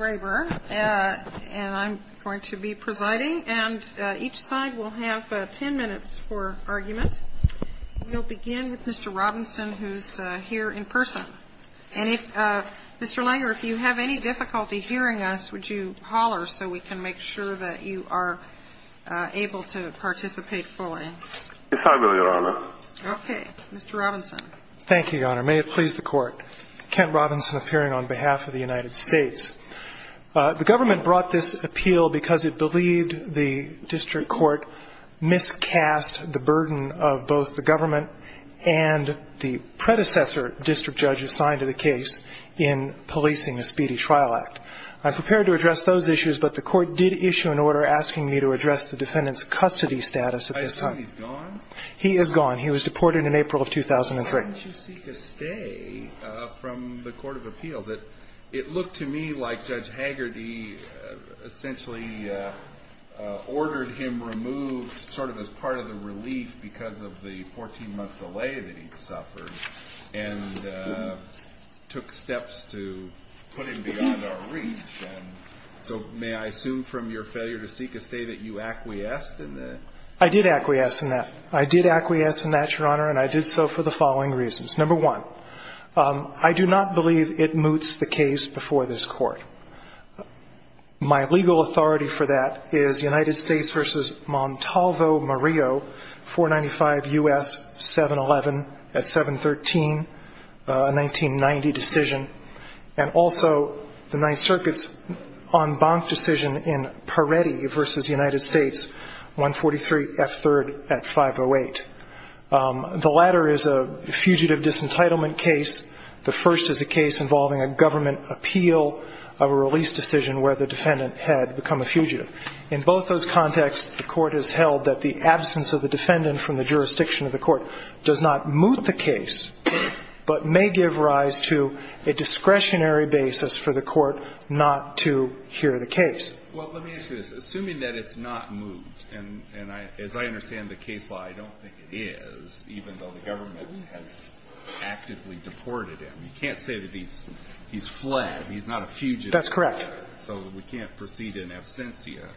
And I'm going to be presiding, and each side will have 10 minutes for argument. We'll begin with Mr. Robinson, who's here in person. And if, Mr. Langer, if you have any difficulty hearing us, would you holler so we can make sure that you are able to participate fully? Yes, I will, Your Honor. Okay. Mr. Robinson. Thank you, Your Honor. May it please the Court. Kent Robinson appearing on behalf of the United States. The government brought this appeal because it believed the district court miscast the burden of both the government and the predecessor district judge assigned to the case in policing the Speedy Trial Act. I'm prepared to address those issues, but the court did issue an order asking me to address the defendant's custody status at this time. I assume he's gone? He is gone. He was deported in April of 2003. Why didn't you seek a stay from the court of appeals? It looked to me like Judge Haggard, he essentially ordered him removed sort of as part of the relief because of the 14-month delay that he'd suffered and took steps to put him beyond our reach. And so may I assume from your failure to seek a stay that you acquiesced in the? I did acquiesce in that. I did acquiesce in that, Your Honor, and I did so for the following reasons. Number one, I do not believe it moots the case before this Court. My legal authority for that is United States v. Montalvo-Murillo, 495 U.S. 711 at 713, a 1990 decision, and also the Ninth Circuit's en banc decision in Peretti v. United States, 143 F. 3rd at 508. The latter is a fugitive disentitlement case. The first is a case involving a government appeal of a release decision where the defendant had become a fugitive. In both those contexts, the Court has held that the absence of the defendant from the jurisdiction of the court does not moot the case but may give rise to a discretionary basis for the court not to hear the case. Well, let me ask you this. Assuming that it's not moot, and as I understand the case law, I don't think it is, even though the government has actively deported him. You can't say that he's fled. He's not a fugitive. That's correct. So we can't proceed in absentia.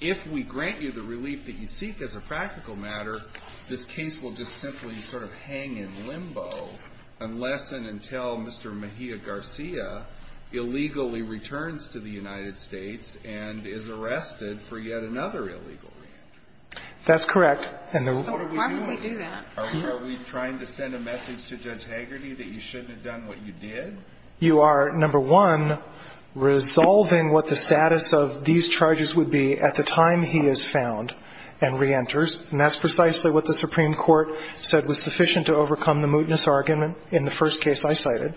If we grant you the relief that you seek as a practical matter, this case will just simply sort of hang in limbo unless and until Mr. Mejia Garcia illegally returns to the United States and is arrested for yet another illegal leave. That's correct. So why would we do that? Are we trying to send a message to Judge Hagerty that you shouldn't have done what you did? You are, number one, resolving what the status of these charges would be at the time he is found and reenters, and that's precisely what the Supreme Court said was sufficient to overcome the mootness argument in the first case I cited.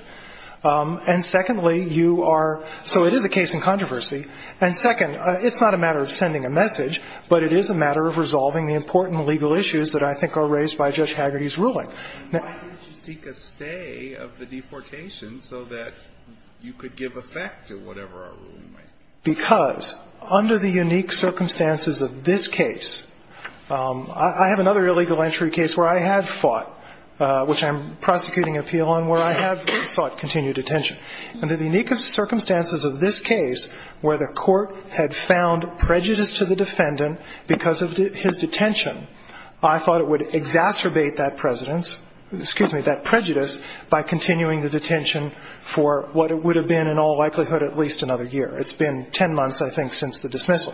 And secondly, you are so it is a case in controversy. And second, it's not a matter of sending a message, but it is a matter of resolving the important legal issues that I think are raised by Judge Hagerty's ruling. Why did you seek a stay of the deportation so that you could give effect to whatever our ruling might be? Because under the unique circumstances of this case, I have another illegal entry case where I have fought, which I'm prosecuting an appeal on, where I have sought continued detention. Under the unique circumstances of this case, where the court had found prejudice to the defendant because of his detention, I thought it would exacerbate that prejudice by continuing the detention for what it would have been in all likelihood at least another year. It's been 10 months, I think, since the dismissal.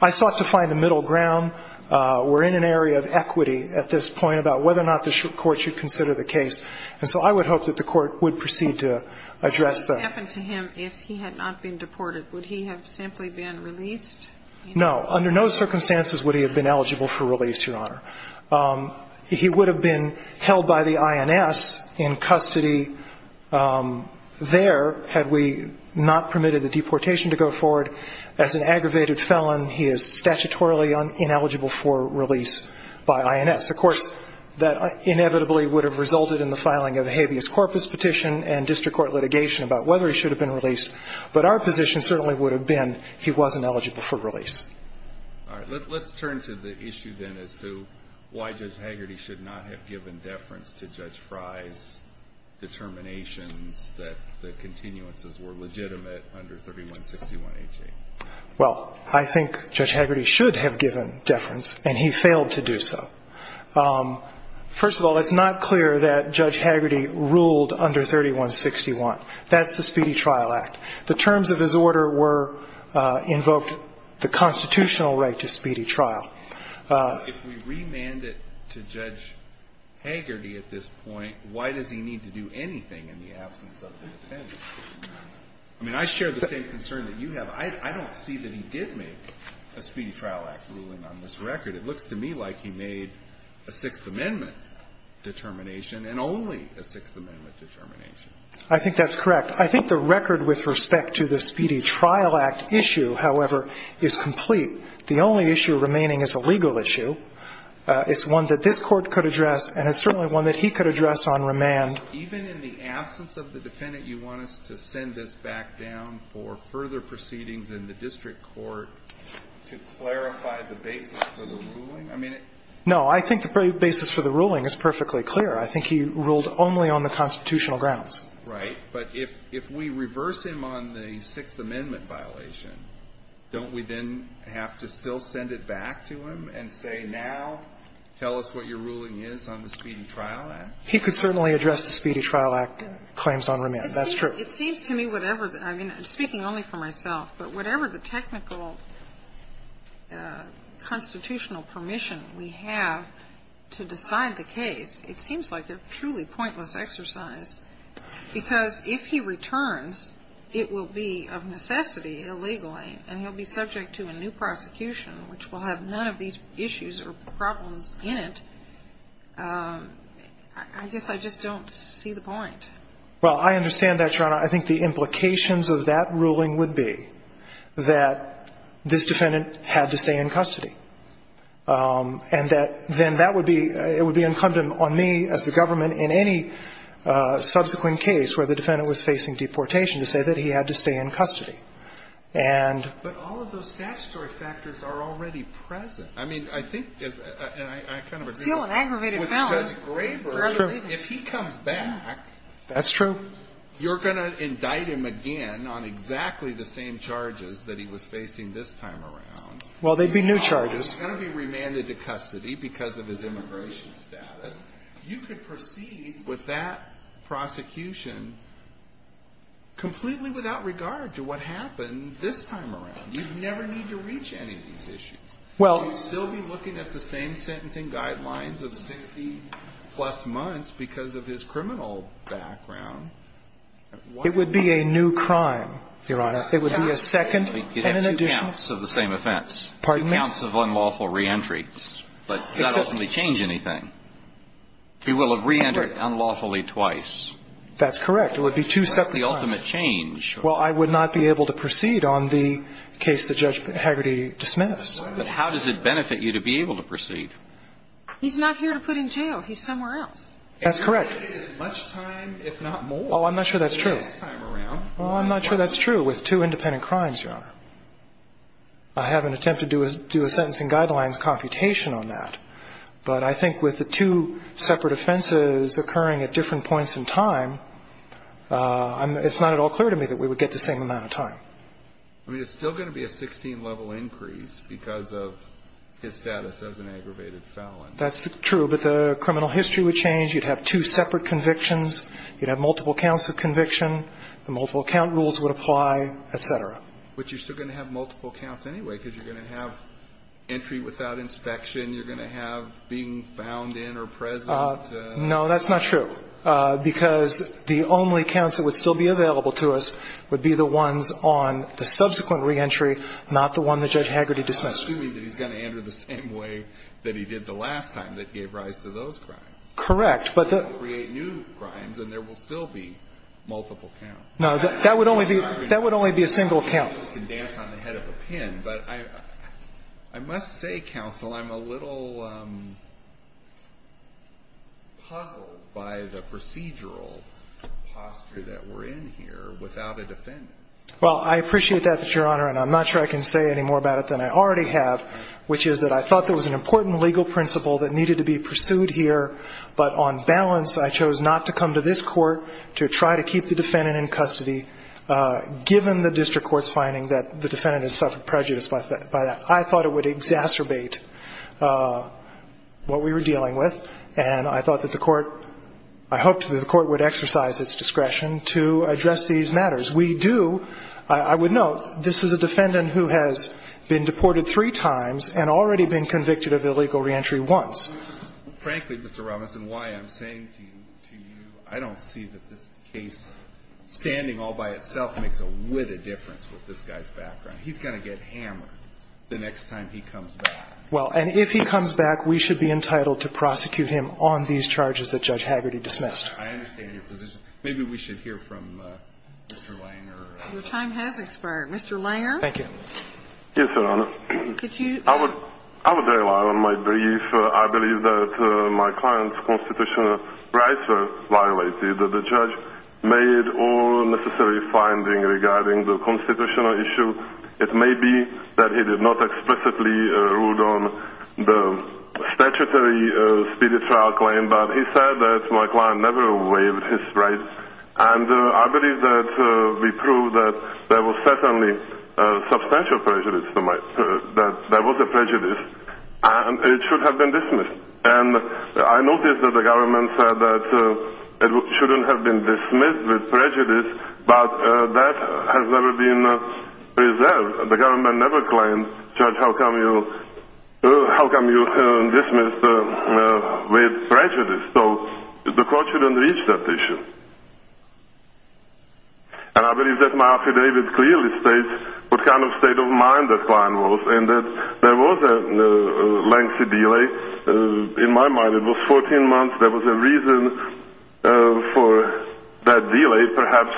I sought to find a middle ground. We're in an area of equity at this point about whether or not the court should consider the case. And so I would hope that the court would proceed to address that. What would happen to him if he had not been deported? Would he have simply been released? No. Under no circumstances would he have been eligible for release, Your Honor. He would have been held by the INS in custody there had we not permitted the deportation to go forward. As an aggravated felon, he is statutorily ineligible for release by INS. Of course, that inevitably would have resulted in the filing of a habeas corpus petition and district court litigation about whether he should have been released. But our position certainly would have been he wasn't eligible for release. All right. Let's turn to the issue then as to why Judge Hagerty should not have given deference to Judge Fry's determinations that the continuances were legitimate under 3161H. Well, I think Judge Hagerty should have given deference, and he failed to do so. First of all, it's not clear that Judge Hagerty ruled under 3161. That's the Speedy Trial Act. The terms of his order were invoked the constitutional right to speedy trial. If we remanded it to Judge Hagerty at this point, why does he need to do anything in the absence of the defendant? I mean, I share the same concern that you have. I don't see that he did make a Speedy Trial Act ruling on this record. It looks to me like he made a Sixth Amendment determination and only a Sixth Amendment determination. I think that's correct. But I think the record with respect to the Speedy Trial Act issue, however, is complete. The only issue remaining is a legal issue. It's one that this Court could address, and it's certainly one that he could address on remand. Even in the absence of the defendant, you want us to send this back down for further proceedings in the district court to clarify the basis for the ruling? I mean, it's no, I think the basis for the ruling is perfectly clear. I think he ruled only on the constitutional grounds. Right. But if we reverse him on the Sixth Amendment violation, don't we then have to still send it back to him and say, now, tell us what your ruling is on the Speedy Trial Act? He could certainly address the Speedy Trial Act claims on remand. That's true. It seems to me whatever the – I mean, I'm speaking only for myself, but whatever the technical constitutional permission we have to decide the case, it seems like a truly pointless exercise, because if he returns, it will be of necessity illegally, and he'll be subject to a new prosecution, which will have none of these issues or problems in it. I guess I just don't see the point. Well, I understand that, Your Honor. I think the implications of that ruling would be that this defendant had to stay in custody. And that then that would be – it would be incumbent on me as the government in any subsequent case where the defendant was facing deportation to say that he had to stay in custody. And – But all of those statutory factors are already present. I mean, I think – and I kind of agree with Judge Graber. It's still an aggravated felony for other reasons. If he comes back – That's true. You're going to indict him again on exactly the same charges that he was facing this time around. Well, they'd be new charges. He's going to be remanded to custody because of his immigration status. You could proceed with that prosecution completely without regard to what happened this time around. You'd never need to reach any of these issues. Well – You'd still be looking at the same sentencing guidelines of 60-plus months because of his criminal background. It would be a second and an additional. You'd have two counts of the same offense. Pardon me? Two counts of unlawful reentry. But does that ultimately change anything? He will have reentered unlawfully twice. That's correct. It would be two separate times. What's the ultimate change? Well, I would not be able to proceed on the case that Judge Haggerty dismissed. But how does it benefit you to be able to proceed? He's not here to put in jail. He's somewhere else. That's correct. And you're going to get as much time, if not more, the next time around. Oh, I'm not sure that's true. I'm familiar with two independent crimes, Your Honor. I have an attempt to do a sentencing guidelines computation on that. But I think with the two separate offenses occurring at different points in time, it's not at all clear to me that we would get the same amount of time. I mean, it's still going to be a 16-level increase because of his status as an aggravated felon. That's true. But the criminal history would change. You'd have two separate convictions. You'd have multiple counts of conviction. The multiple count rules would apply, et cetera. But you're still going to have multiple counts anyway because you're going to have entry without inspection. You're going to have being found in or present. No, that's not true. Because the only counts that would still be available to us would be the ones on the subsequent reentry, not the one that Judge Haggerty dismissed. I'm assuming that he's going to enter the same way that he did the last time that gave rise to those crimes. If you don't create new crimes, then there will still be multiple counts. No, that would only be a single count. I must say, counsel, I'm a little puzzled by the procedural posture that we're in here without a defendant. Well, I appreciate that, Your Honor, and I'm not sure I can say any more about it than I already have, which is that I thought there was an important legal principle that needed to be pursued here, but on balance, I chose not to come to this court to try to keep the defendant in custody, given the district court's finding that the defendant has suffered prejudice by that. I thought it would exacerbate what we were dealing with, and I thought that the court – I hoped that the court would exercise its discretion to address these matters. We do – I would note, this is a defendant who has been deported three times and already been convicted of illegal reentry once. Frankly, Mr. Robinson, why I'm saying to you, I don't see that this case, standing all by itself, makes a whitted difference with this guy's background. He's going to get hammered the next time he comes back. Well, and if he comes back, we should be entitled to prosecute him on these charges that Judge Hagerty dismissed. I understand your position. Maybe we should hear from Mr. Langer. Mr. Langer. Thank you. Yes, Your Honor. Could you – I would – I would rely on my brief. I believe that my client's constitutional rights were violated. The judge made all necessary findings regarding the constitutional issue. It may be that he did not explicitly rule on the statutory speedy trial claim, but he said that my client never waived his rights. And I believe that we proved that there was certainly substantial prejudice to my – that there was a prejudice, and it should have been dismissed. And I noticed that the government said that it shouldn't have been dismissed with prejudice, but that has never been preserved. The government never claimed, Judge, how come you – how come you dismissed with prejudice? So the court shouldn't reach that issue. And I believe that my affidavit clearly states what kind of state of mind the client was, and that there was a lengthy delay. In my mind, it was 14 months. There was a reason for that delay, perhaps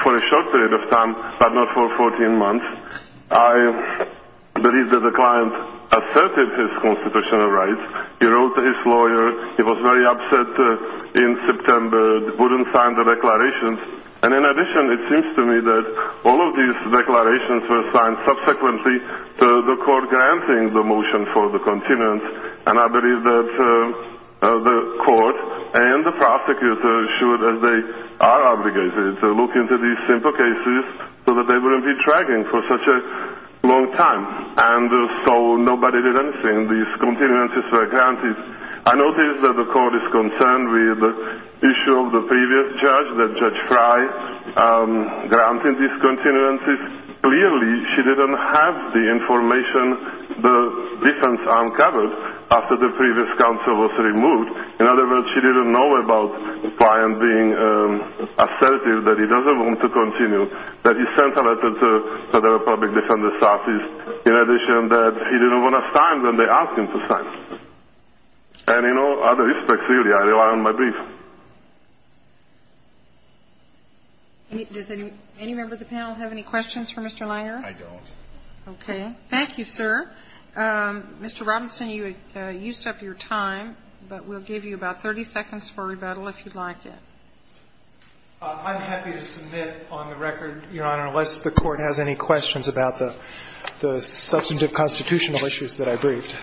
for a short period of time, but not for 14 months. I believe that the client asserted his constitutional rights. He wrote to his lawyer. He was very upset in September, wouldn't sign the declarations. And in addition, it seems to me that all of these declarations were signed subsequently, the court granting the motion for the continuance. And I believe that the court and the prosecutor should, as they are obligated, look into these simple cases so that they wouldn't be dragging for such a long time. And so nobody did anything. These continuances were granted. I noticed that the court is concerned with the issue of the previous judge, that Judge Fry granted these continuances. Clearly, she didn't have the information the defense uncovered after the previous counsel was removed. In other words, she didn't know about the client being assertive, that he doesn't want to continue, that he sent a letter to the public defender's office, in addition that he didn't want to sign when they asked him to sign. And in all other respects, really, I rely on my brief. Does any member of the panel have any questions for Mr. Lyer? I don't. Okay. Thank you, sir. Mr. Robinson, you used up your time, but we'll give you about 30 seconds for rebuttal if you'd like it. I'm happy to submit on the record, Your Honor, unless the court has any questions about the substantive constitutional issues that I briefed.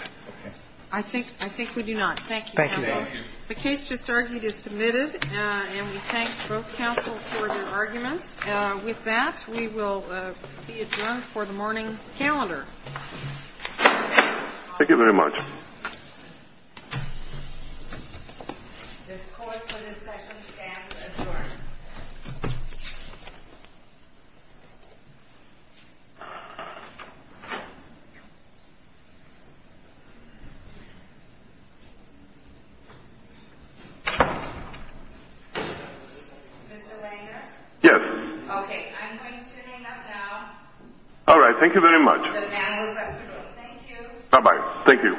I think we do not. Thank you, counsel. The case just argued is submitted, and we thank both counsel for their arguments. With that, we will be adjourned for the morning calendar. Thank you very much. The court for this session stands adjourned. Mr. Langer? Yes. Okay, I'm going to hang up now. All right. Thank you very much. The man was at the door. Thank you. Bye-bye. Thank you. Thank you. Thank you.